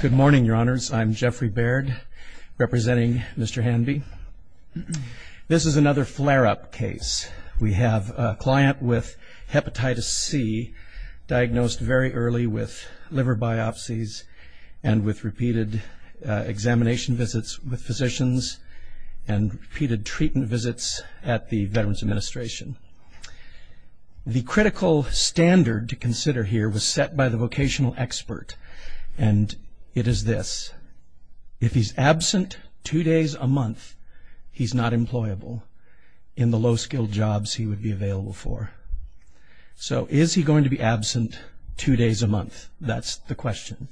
Good morning, your honors. I'm Jeffrey Baird, representing Mr. Hanbey. This is another flare-up case. We have a client with hepatitis C diagnosed very early with liver biopsies and with repeated examination visits with physicians and repeated treatment visits at the Veterans Administration. The critical standard to consider here was set by the vocational expert and it is this, if he's absent two days a month, he's not employable in the low-skilled jobs he would be available for. So is he going to be absent two days a month? That's the question.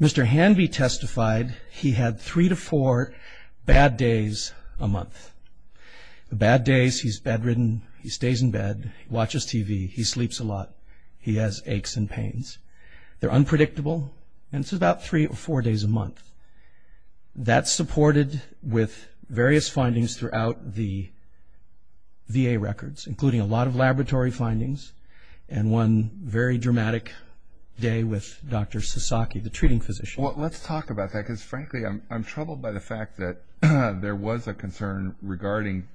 Mr. Hanbey testified he had three to four bad days a month. Bad days, he's bedridden, he stays in bed, watches TV, he sleeps a lot, he has aches and pains. They're unpredictable and it's about three or four days a month. That's supported with various findings throughout the VA records, including a lot of laboratory findings and one very dramatic day with Dr. Sasaki, the treating physician. Well, let's talk about that because, frankly, I'm troubled by the fact that there was a concern regarding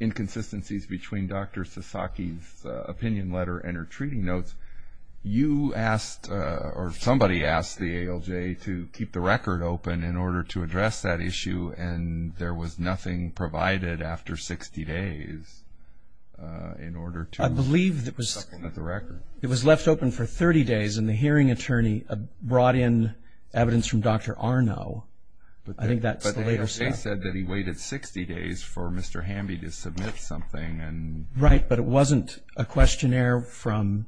inconsistencies between Dr. Sasaki's opinion letter and her treating notes. You asked, or somebody asked the ALJ to keep the record open in order to address that issue and there was nothing provided after 60 days in order to supplement the record. I believe it was left open for 30 days and the hearing attorney brought in evidence from Dr. Arnault. But the ALJ said that he waited 60 days for Mr. Hanbey to submit something. Right, but it wasn't a questionnaire from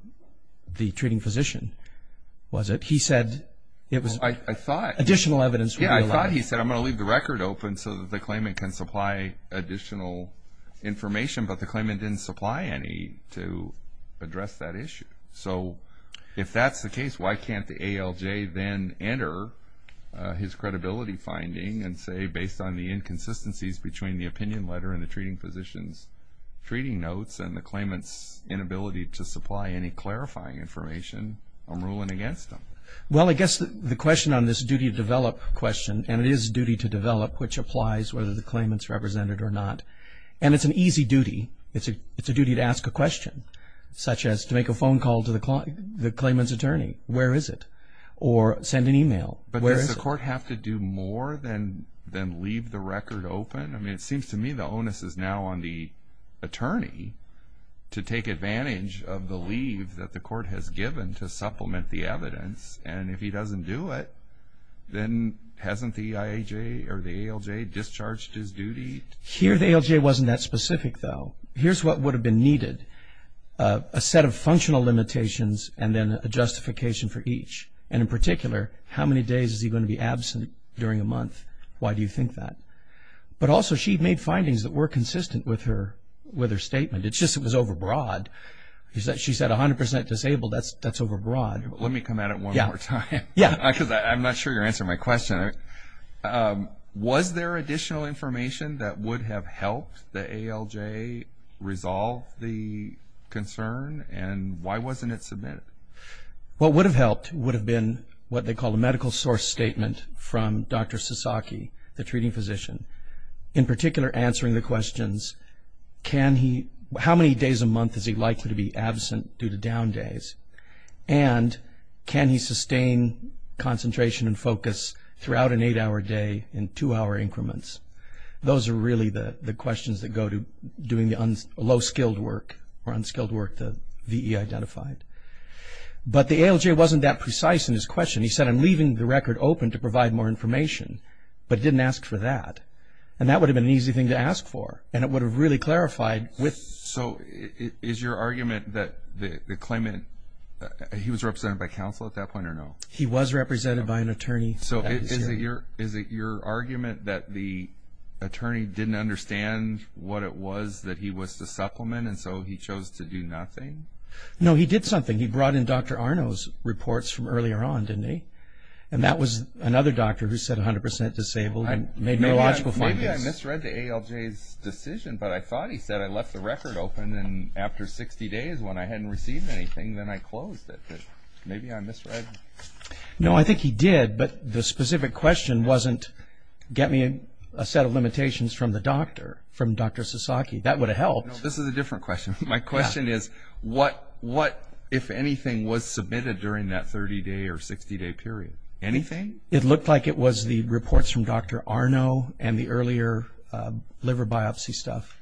the treating physician, was it? He said it was additional evidence. I thought he said, I'm going to leave the record open so that the claimant can supply additional information, but the claimant didn't supply any to address that issue. So if that's the case, why can't the ALJ then enter his credibility finding and say, based on the inconsistencies between the opinion letter and the treating physician's treating notes and the claimant's inability to supply any clarifying information, I'm ruling against him? Well, I guess the question on this duty to develop question, and it is a duty to develop, which applies whether the claimant's represented or not, and it's an easy duty. It's a duty to ask a question, such as to make a phone call to the claimant's attorney, where is it? Or send an email, where is it? Does the court have to do more than leave the record open? I mean, it seems to me the onus is now on the attorney to take advantage of the leave that the court has given to supplement the evidence. And if he doesn't do it, then hasn't the EIJ or the ALJ discharged his duty? Here the ALJ wasn't that specific, though. Here's what would have been needed, a set of functional limitations and then a justification for each. And in particular, how many days is he going to be absent during a month? Why do you think that? But also, she made findings that were consistent with her statement. It's just it was overbroad. She said 100% disabled, that's overbroad. Let me come at it one more time. Yeah. Because I'm not sure you're answering my question. Was there additional information that would have helped the ALJ resolve the concern? And why wasn't it submitted? What would have helped would have been what they call a medical source statement from Dr. Sasaki, the treating physician, in particular answering the questions, how many days a month is he likely to be absent due to down days? And can he sustain concentration and focus throughout an eight-hour day in two-hour increments? Those are really the questions that go to doing the low-skilled work or unskilled work that VE identified. But the ALJ wasn't that precise in his question. He said, I'm leaving the record open to provide more information, but didn't ask for that. And that would have been an easy thing to ask for, and it would have really clarified with. So is your argument that the claimant, he was represented by counsel at that point or no? He was represented by an attorney. So is it your argument that the attorney didn't understand what it was that he was to supplement, and so he chose to do nothing? No, he did something. He brought in Dr. Arno's reports from earlier on, didn't he? And that was another doctor who said 100% disabled and made neurological findings. Maybe I misread the ALJ's decision, but I thought he said, I left the record open and after 60 days when I hadn't received anything, then I closed it. Maybe I misread. No, I think he did, but the specific question wasn't, get me a set of limitations from the doctor, from Dr. Sasaki. That would have helped. No, this is a different question. My question is, what, if anything, was submitted during that 30-day or 60-day period? Anything? It looked like it was the reports from Dr. Arno and the earlier liver biopsy stuff.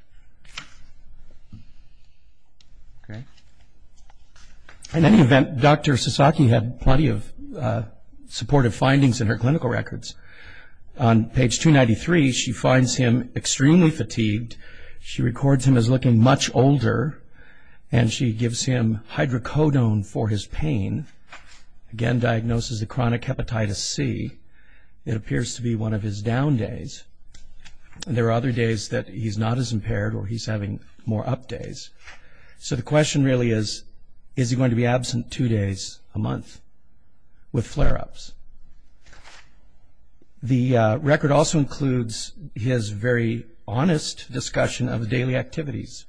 Okay. In any event, Dr. Sasaki had plenty of supportive findings in her clinical records. On page 293, she finds him extremely fatigued. She records him as looking much older, and she gives him hydrocodone for his pain, again diagnoses a chronic hepatitis C. It appears to be one of his down days. There are other days that he's not as impaired or he's having more up days. So the question really is, is he going to be absent two days a month with flare-ups? The record also includes his very honest discussion of daily activities,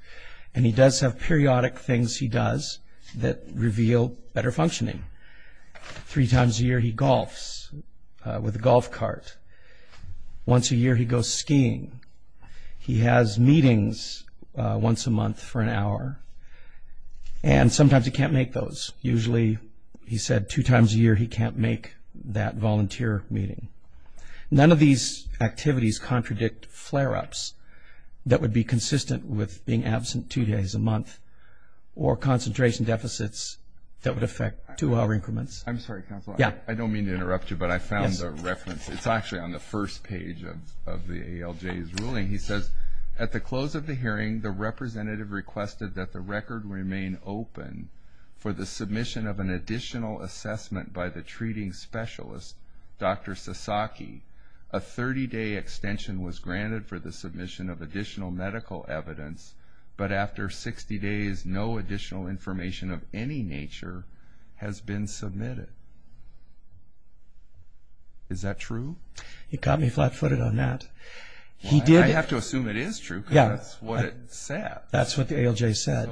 and he does have periodic things he does that reveal better functioning. Three times a year, he golfs with a golf cart. Once a year, he goes skiing. He has meetings once a month for an hour, and sometimes he can't make those. Usually, he said two times a year he can't make that volunteer meeting. None of these activities contradict flare-ups that would be consistent with being absent two days a month or concentration deficits that would affect two-hour increments. I'm sorry, counsel. I don't mean to interrupt you, but I found the reference. It's actually on the first page of the ALJ's ruling. He says, at the close of the hearing, the representative requested that the record remain open for the submission of an additional assessment by the treating specialist, Dr. Sasaki. A 30-day extension was granted for the submission of additional medical evidence, but after 60 days, no additional information of any nature has been submitted. Is that true? He caught me flat-footed on that. I have to assume it is true because that's what it said. That's what the ALJ said.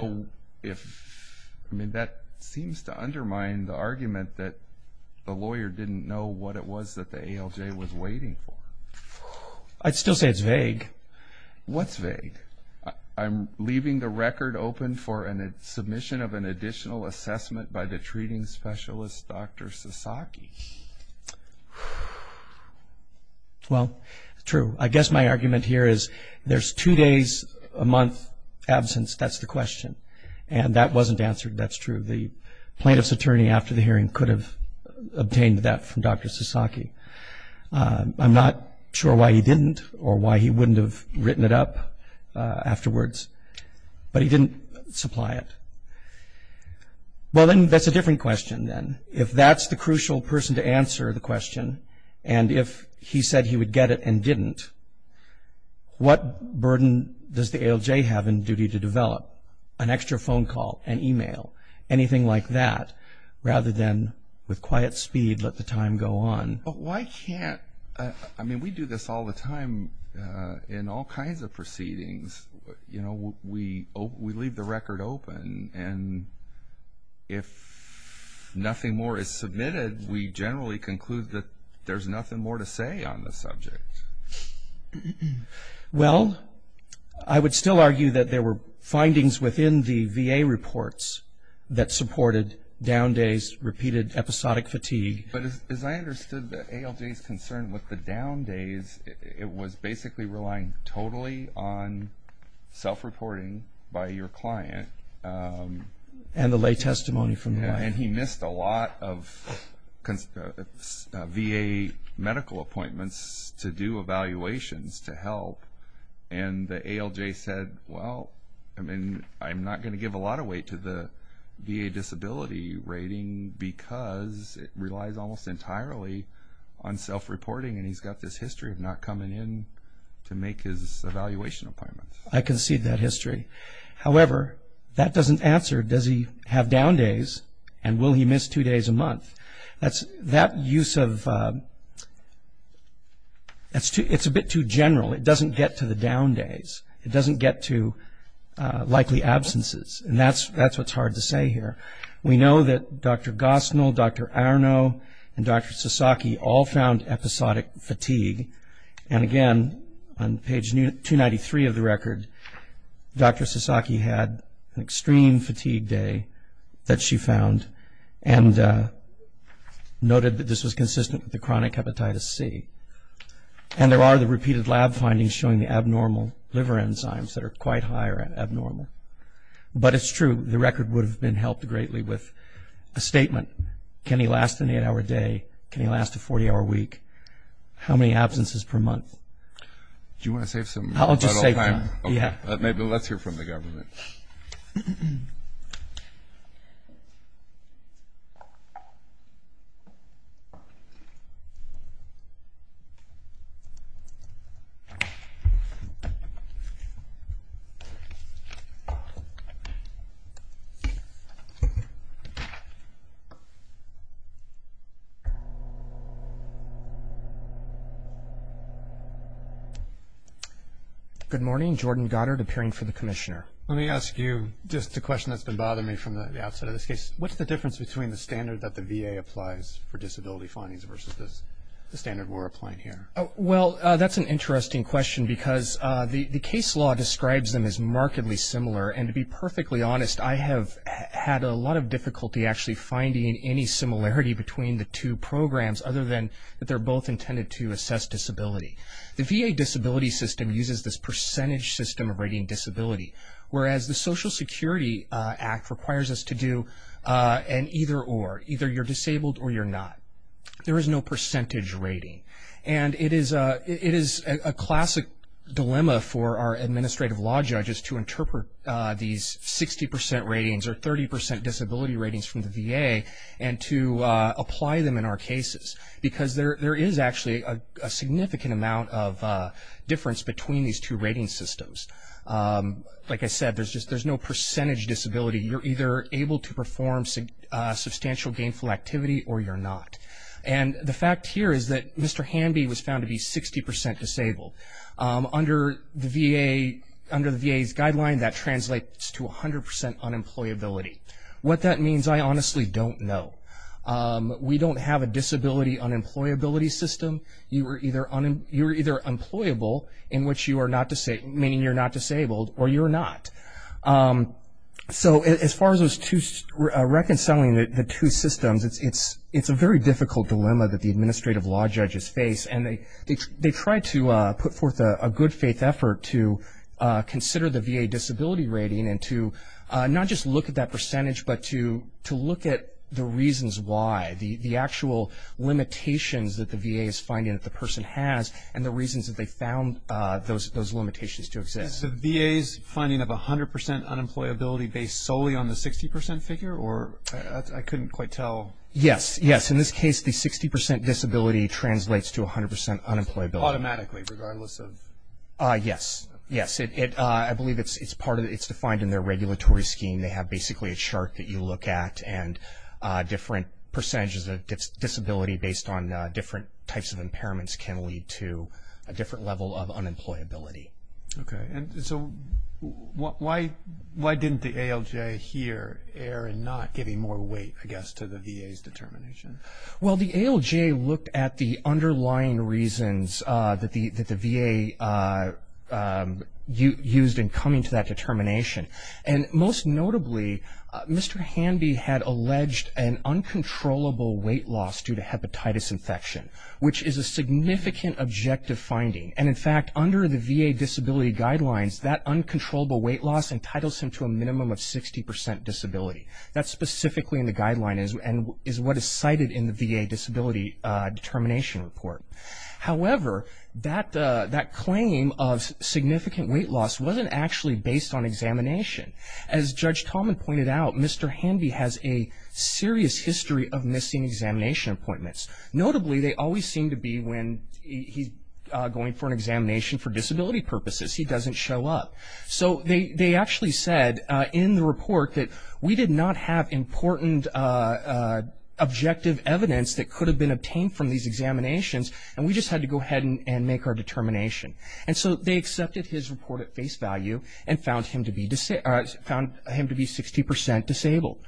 That seems to undermine the argument that the lawyer didn't know what it was that the ALJ was waiting for. What's vague? I'm leaving the record open for a submission of an additional assessment by the treating specialist, Dr. Sasaki. Well, true. I guess my argument here is there's two days a month absence. That's the question. And that wasn't answered. That's true. The plaintiff's attorney, after the hearing, could have obtained that from Dr. Sasaki. I'm not sure why he didn't or why he wouldn't have written it up afterwards. But he didn't supply it. Well, then that's a different question then. If that's the crucial person to answer the question, and if he said he would get it and didn't, what burden does the ALJ have in duty to develop? An extra phone call? An email? Anything like that, rather than, with quiet speed, let the time go on. But why can't we do this all the time in all kinds of proceedings? We leave the record open. And if nothing more is submitted, we generally conclude that there's nothing more to say on the subject. Well, I would still argue that there were findings within the VA reports that supported down days, repeated episodic fatigue. But as I understood the ALJ's concern with the down days, it was basically relying totally on self-reporting by your client. And the lay testimony from the client. And he missed a lot of VA medical appointments to do evaluations to help. And the ALJ said, well, I'm not going to give a lot of weight to the VA disability rating because it relies almost entirely on self-reporting. And he's got this history of not coming in to make his evaluation appointments. I concede that history. However, that doesn't answer, does he have down days, and will he miss two days a month? That use of, it's a bit too general. It doesn't get to the down days. It doesn't get to likely absences. And that's what's hard to say here. We know that Dr. Gosnell, Dr. Arno, and Dr. Sasaki all found episodic fatigue. And again, on page 293 of the record, Dr. Sasaki had an extreme fatigue day that she found and noted that this was consistent with the chronic hepatitis C. And there are the repeated lab findings showing the abnormal liver enzymes that are quite high or abnormal. But it's true, the record would have been helped greatly with a statement. Can he last an eight-hour day? Can he last a 40-hour week? How many absences per month? Do you want to save some time? I'll just save time. Okay. Maybe let's hear from the government. Good morning. Jordan Goddard, appearing for the Commissioner. Let me ask you just a question that's been bothering me from the outset of this case. What's the difference between the standard that the VA applies for disability findings versus the standard we're applying here? Well, that's an interesting question because the case law describes them as markedly similar. And to be perfectly honest, I have had a lot of difficulty actually finding any similarity between the two programs, other than that they're both intended to assess disability. The VA disability system uses this percentage system of rating disability, whereas the Social Security Act requires us to do an either or, either you're disabled or you're not. There is no percentage rating. And it is a classic dilemma for our administrative law judges to interpret these 60% ratings or 30% disability ratings from the VA and to apply them in our cases because there is actually a significant amount of difference between these two rating systems. Like I said, there's no percentage disability. You're either able to perform substantial gainful activity or you're not. And the fact here is that Mr. Hanby was found to be 60% disabled. Under the VA's guideline, that translates to 100% unemployability. What that means, I honestly don't know. We don't have a disability unemployability system. You're either employable, meaning you're not disabled, or you're not. So as far as reconciling the two systems, it's a very difficult dilemma that the administrative law judges face. And they try to put forth a good faith effort to consider the VA disability rating and to not just look at that percentage but to look at the reasons why, the actual limitations that the VA is finding that the person has and the reasons that they found those limitations to exist. So VA's finding of 100% unemployability based solely on the 60% figure? Or I couldn't quite tell. Yes, yes. In this case, the 60% disability translates to 100% unemployability. Automatically, regardless of? Yes, yes. I believe it's defined in their regulatory scheme. They have basically a chart that you look at, and different percentages of disability based on different types of impairments can lead to a different level of unemployability. Okay. And so why didn't the ALJ here err in not giving more weight, I guess, to the VA's determination? Well, the ALJ looked at the underlying reasons that the VA used in coming to that determination. And most notably, Mr. Hanby had alleged an uncontrollable weight loss due to hepatitis infection, which is a significant objective finding. And, in fact, under the VA disability guidelines, that uncontrollable weight loss entitles him to a minimum of 60% disability. That's specifically in the guidelines and is what is cited in the VA disability determination report. However, that claim of significant weight loss wasn't actually based on examination. As Judge Tallman pointed out, Mr. Hanby has a serious history of missing examination appointments. Notably, they always seem to be when he's going for an examination for disability purposes. He doesn't show up. So they actually said in the report that we did not have important objective evidence that could have been obtained from these examinations, and we just had to go ahead and make our determination. And so they accepted his report at face value and found him to be 60% disabled.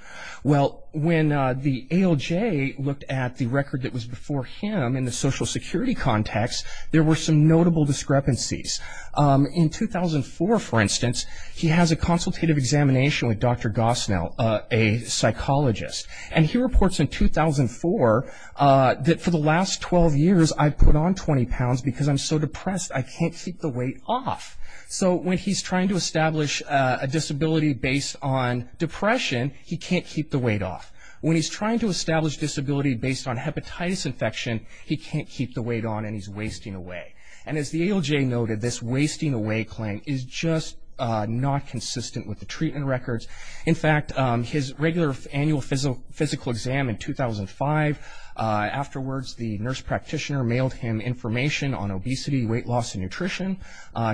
Well, when the ALJ looked at the record that was before him in the Social Security context, there were some notable discrepancies. In 2004, for instance, he has a consultative examination with Dr. Gosnell, a psychologist. And he reports in 2004 that, for the last 12 years I've put on 20 pounds because I'm so depressed I can't keep the weight off. So when he's trying to establish a disability based on depression, he can't keep the weight off. When he's trying to establish disability based on hepatitis infection, he can't keep the weight on and he's wasting away. And as the ALJ noted, this wasting away claim is just not consistent with the treatment records. In fact, his regular annual physical exam in 2005, afterwards the nurse practitioner mailed him information on obesity, weight loss, and nutrition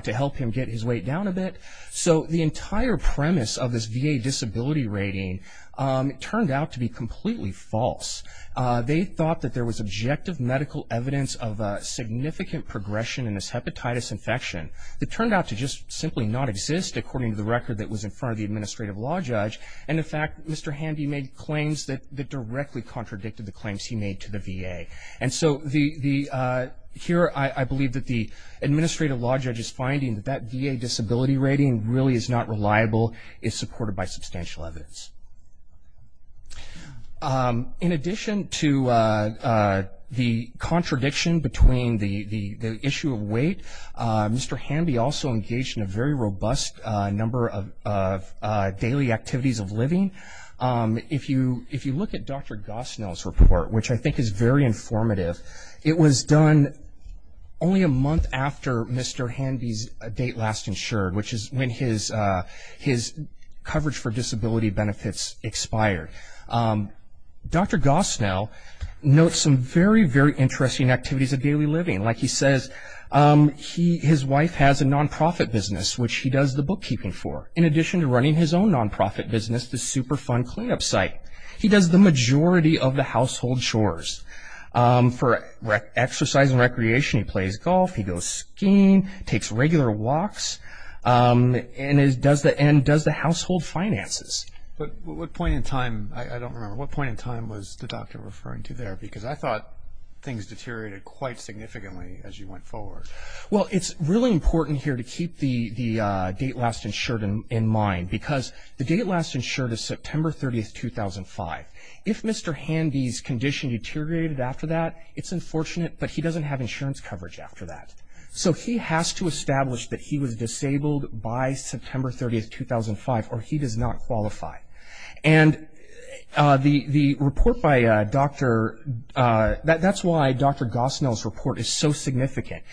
to help him get his weight down a bit. So the entire premise of this VA disability rating turned out to be completely false. They thought that there was objective medical evidence of significant progression in this hepatitis infection that turned out to just simply not exist according to the record that was in front of the administrative law judge. And in fact, Mr. Handy made claims that directly contradicted the claims he made to the VA. And so here I believe that the administrative law judge is finding that that VA disability rating really is not reliable, is supported by substantial evidence. In addition to the contradiction between the issue of weight, Mr. Handy also engaged in a very robust number of daily activities of living. If you look at Dr. Gosnell's report, which I think is very informative, it was done only a month after Mr. Handy's date last insured, which is when his coverage for disability benefits expired. Dr. Gosnell notes some very, very interesting activities of daily living. Like he says, his wife has a nonprofit business, which he does the bookkeeping for, in addition to running his own nonprofit business, the Superfund cleanup site. He does the majority of the household chores. For exercise and recreation, he plays golf, he goes skiing, takes regular walks. And does the household finances. But what point in time, I don't remember, what point in time was the doctor referring to there? Because I thought things deteriorated quite significantly as you went forward. Well, it's really important here to keep the date last insured in mind, because the date last insured is September 30, 2005. If Mr. Handy's condition deteriorated after that, it's unfortunate, but he doesn't have insurance coverage after that. So he has to establish that he was disabled by September 30, 2005, or he does not qualify. And the report by Dr. – that's why Dr. Gosnell's report is so significant.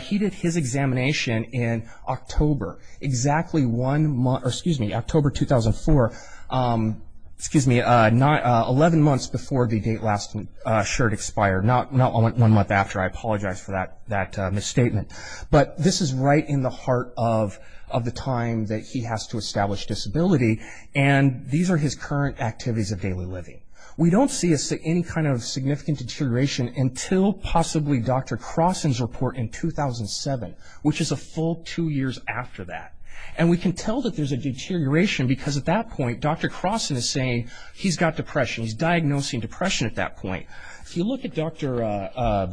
He did his examination in October, exactly one month – or, excuse me, October 2004. Excuse me, 11 months before the date last insured expired, not one month after. I apologize for that misstatement. But this is right in the heart of the time that he has to establish disability. And these are his current activities of daily living. We don't see any kind of significant deterioration until possibly Dr. Crossen's report in 2007, which is a full two years after that. And we can tell that there's a deterioration because at that point, Dr. Crossen is saying he's got depression. He's diagnosing depression at that point. If you look at Dr.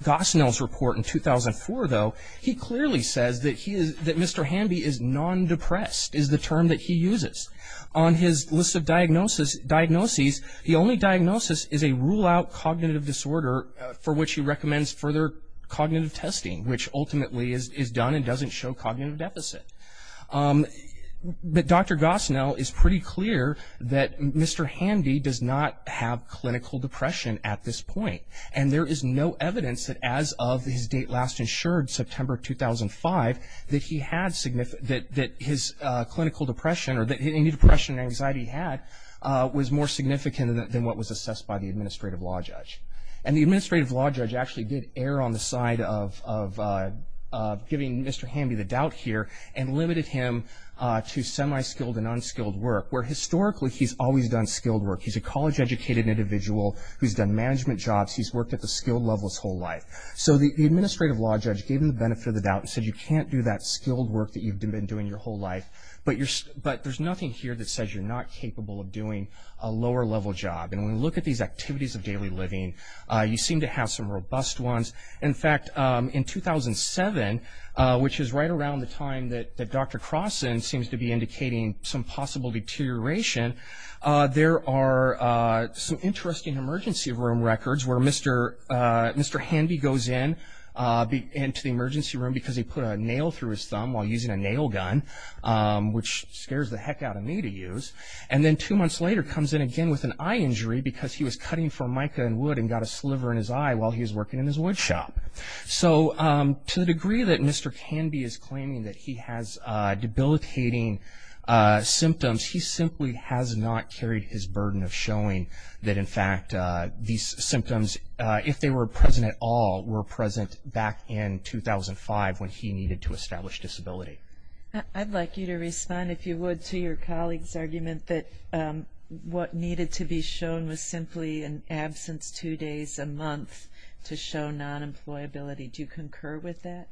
Gosnell's report in 2004, though, he clearly says that Mr. Handy is non-depressed, is the term that he uses. On his list of diagnoses, the only diagnosis is a rule-out cognitive disorder for which he recommends further cognitive testing, which ultimately is done and doesn't show cognitive deficit. But Dr. Gosnell is pretty clear that Mr. Handy does not have clinical depression at this point. And there is no evidence that as of his date last insured, September 2005, that his clinical depression or any depression or anxiety he had was more significant than what was assessed by the administrative law judge. And the administrative law judge actually did err on the side of giving Mr. Handy the doubt here and limited him to semi-skilled and unskilled work, where historically he's always done skilled work. He's a college-educated individual who's done management jobs. He's worked at the skilled levels his whole life. So the administrative law judge gave him the benefit of the doubt and said you can't do that skilled work that you've been doing your whole life, but there's nothing here that says you're not capable of doing a lower-level job. And when we look at these activities of daily living, you seem to have some robust ones. In fact, in 2007, which is right around the time that Dr. Crossen seems to be indicating some possible deterioration, there are some interesting emergency room records where Mr. Handy goes into the emergency room because he put a nail through his thumb while using a nail gun, which scares the heck out of me to use, and then two months later comes in again with an eye injury because he was cutting for mica and wood and got a sliver in his eye while he was working in his woodshop. So to the degree that Mr. Canby is claiming that he has debilitating symptoms, he simply has not carried his burden of showing that, in fact, these symptoms, if they were present at all, were present back in 2005 when he needed to establish disability. I'd like you to respond, if you would, to your colleague's argument that what needed to be shown was simply an absence two days a month to show non-employability. Do you concur with that?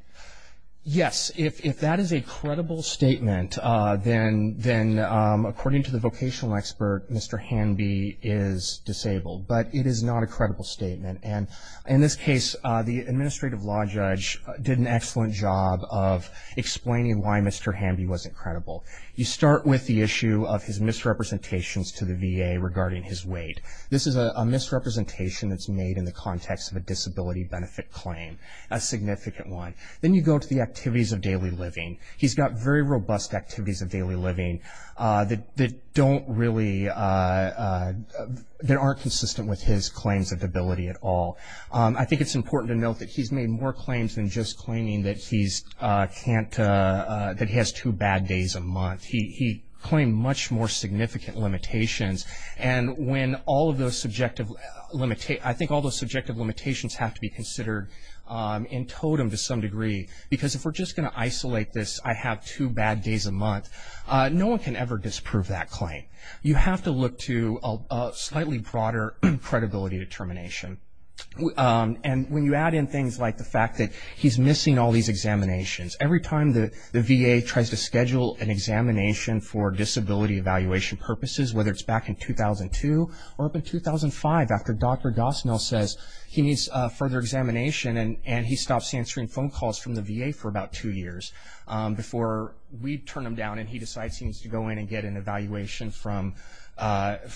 Yes. If that is a credible statement, then according to the vocational expert, Mr. Handy is disabled. But it is not a credible statement. And in this case, the administrative law judge did an excellent job of explaining why Mr. Handy wasn't credible. You start with the issue of his misrepresentations to the VA regarding his weight. This is a misrepresentation that's made in the context of a disability benefit claim, a significant one. Then you go to the activities of daily living. He's got very robust activities of daily living that aren't consistent with his claims of debility at all. I think it's important to note that he's made more claims than just claiming that he has two bad days a month. He claimed much more significant limitations. And when all of those subjective limitations have to be considered in totem to some degree, because if we're just going to isolate this, I have two bad days a month, no one can ever disprove that claim. You have to look to a slightly broader credibility determination. And when you add in things like the fact that he's missing all these examinations, every time the VA tries to schedule an examination for disability evaluation purposes, whether it's back in 2002 or up in 2005 after Dr. Gosnell says he needs further examination and he stops answering phone calls from the VA for about two years before we turn him down and he decides he needs to go in and get an evaluation from Dr.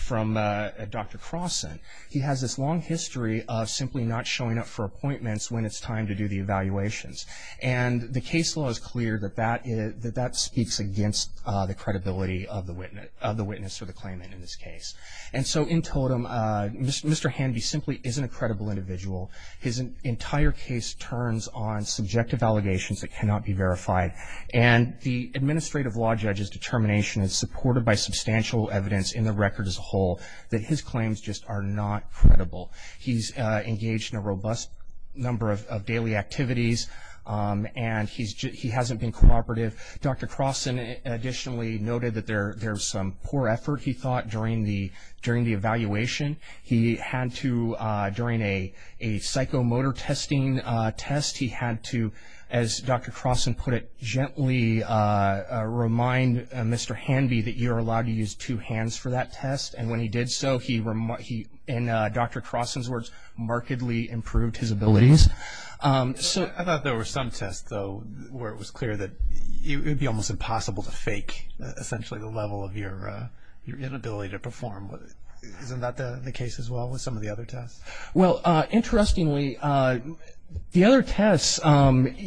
Croson, he has this long history of simply not showing up for appointments when it's time to do the evaluations. And the case law is clear that that speaks against the credibility of the witness or the claimant in this case. And so in totem, Mr. Hanvey simply isn't a credible individual. His entire case turns on subjective allegations that cannot be verified. And the administrative law judge's determination is supported by substantial evidence in the record as a whole that his claims just are not credible. He's engaged in a robust number of daily activities, and he hasn't been cooperative. Dr. Croson additionally noted that there's some poor effort, he thought, during the evaluation. He had to, during a psychomotor testing test, he had to, as Dr. Croson put it, gently remind Mr. Hanvey that you're allowed to use two hands for that test. And when he did so, he, in Dr. Croson's words, markedly improved his abilities. I thought there were some tests, though, where it was clear that it would be almost impossible to fake essentially the level of your inability to perform. Isn't that the case as well with some of the other tests? Well, interestingly, the other tests, Mr.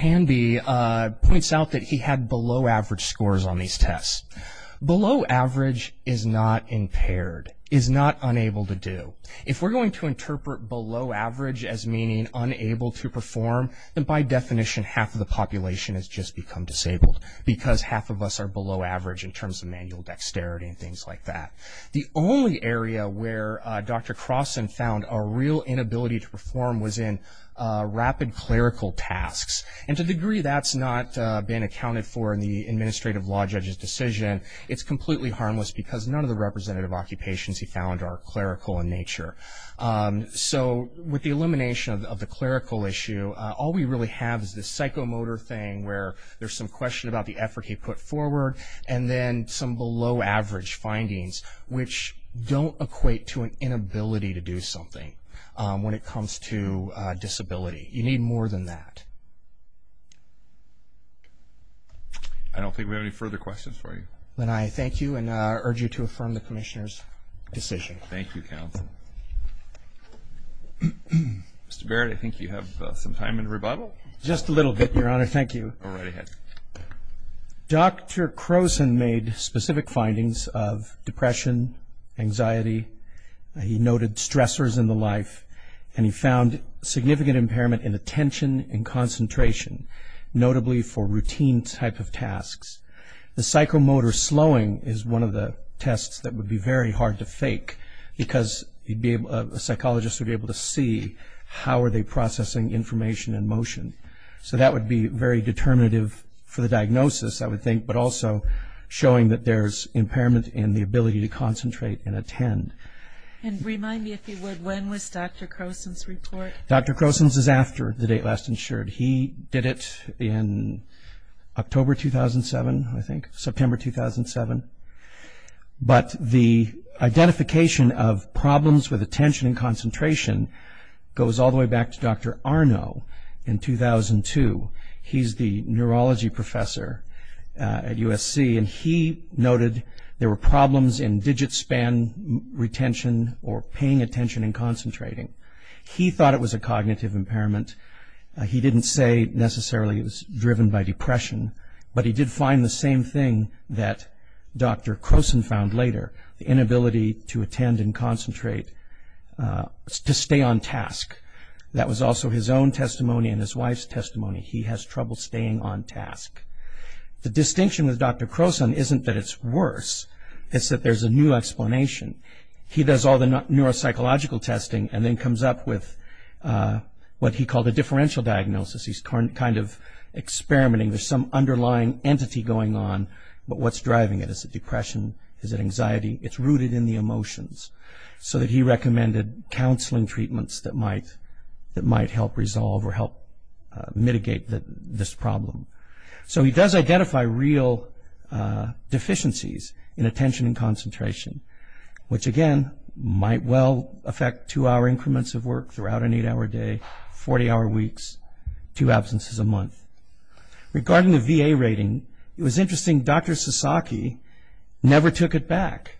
Hanvey points out that he had below average scores on these tests. Below average is not impaired, is not unable to do. If we're going to interpret below average as meaning unable to perform, then by definition half of the population has just become disabled because half of us are below average in terms of manual dexterity and things like that. The only area where Dr. Croson found a real inability to perform was in rapid clerical tasks. And to the degree that's not been accounted for in the administrative law judge's decision, it's completely harmless because none of the representative occupations he found are clerical in nature. So with the elimination of the clerical issue, all we really have is this psychomotor thing where there's some question about the effort he put forward and then some below average findings which don't equate to an inability to do something when it comes to disability. You need more than that. I don't think we have any further questions for you. Then I thank you and urge you to affirm the commissioner's decision. Thank you, counsel. Mr. Barrett, I think you have some time in rebuttal. Just a little bit, Your Honor. Thank you. Go right ahead. Dr. Croson made specific findings of depression, anxiety. He noted stressors in the life, and he found significant impairment in attention and concentration, notably for routine type of tasks. The psychomotor slowing is one of the tests that would be very hard to fake because a psychologist would be able to see how are they processing information in motion. So that would be very determinative for the diagnosis, I would think, but also showing that there's impairment in the ability to concentrate and attend. And remind me, if you would, when was Dr. Croson's report? Dr. Croson's is after the date last insured. He did it in October 2007, I think, September 2007. But the identification of problems with attention and concentration goes all the way back to Dr. Arno in 2002. He's the neurology professor at USC, and he noted there were problems in digit span retention or paying attention and concentrating. He thought it was a cognitive impairment. He didn't say necessarily it was driven by depression, but he did find the same thing that Dr. Croson found later, the inability to attend and concentrate, to stay on task. That was also his own testimony and his wife's testimony. He has trouble staying on task. The distinction with Dr. Croson isn't that it's worse. It's that there's a new explanation. He does all the neuropsychological testing and then comes up with what he called a differential diagnosis. He's kind of experimenting. There's some underlying entity going on, but what's driving it? Is it depression? Is it anxiety? It's rooted in the emotions, so that he recommended counseling treatments that might help resolve or help mitigate this problem. He does identify real deficiencies in attention and concentration, which again might well affect two-hour increments of work throughout an eight-hour day, 40-hour weeks, two absences a month. Regarding the VA rating, it was interesting. Dr. Sasaki never took it back.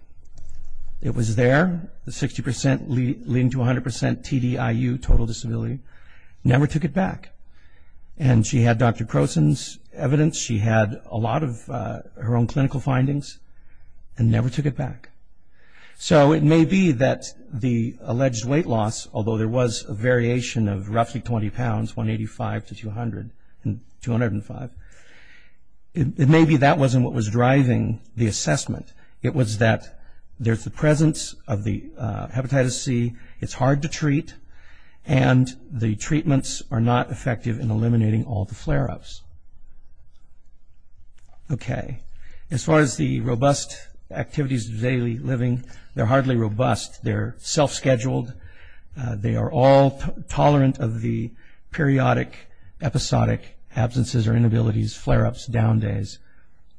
It was there, the 60% leading to 100% TDIU, total disability, never took it back. She had Dr. Croson's evidence. She had a lot of her own clinical findings and never took it back. It may be that the alleged weight loss, although there was a variation of roughly 20 pounds, from 185 to 205, it may be that wasn't what was driving the assessment. It was that there's the presence of the hepatitis C, it's hard to treat, and the treatments are not effective in eliminating all the flare-ups. As far as the robust activities of daily living, they're hardly robust. They're self-scheduled. They are all tolerant of the periodic, episodic absences or inabilities, flare-ups, down days,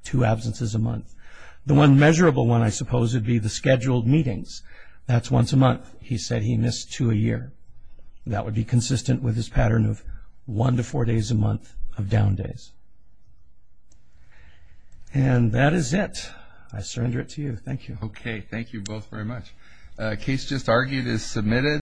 two absences a month. The one measurable one, I suppose, would be the scheduled meetings. That's once a month. He said he missed two a year. That would be consistent with his pattern of one to four days a month of down days. And that is it. I surrender it to you. Thank you. Okay. Thank you both very much. The case just argued is submitted.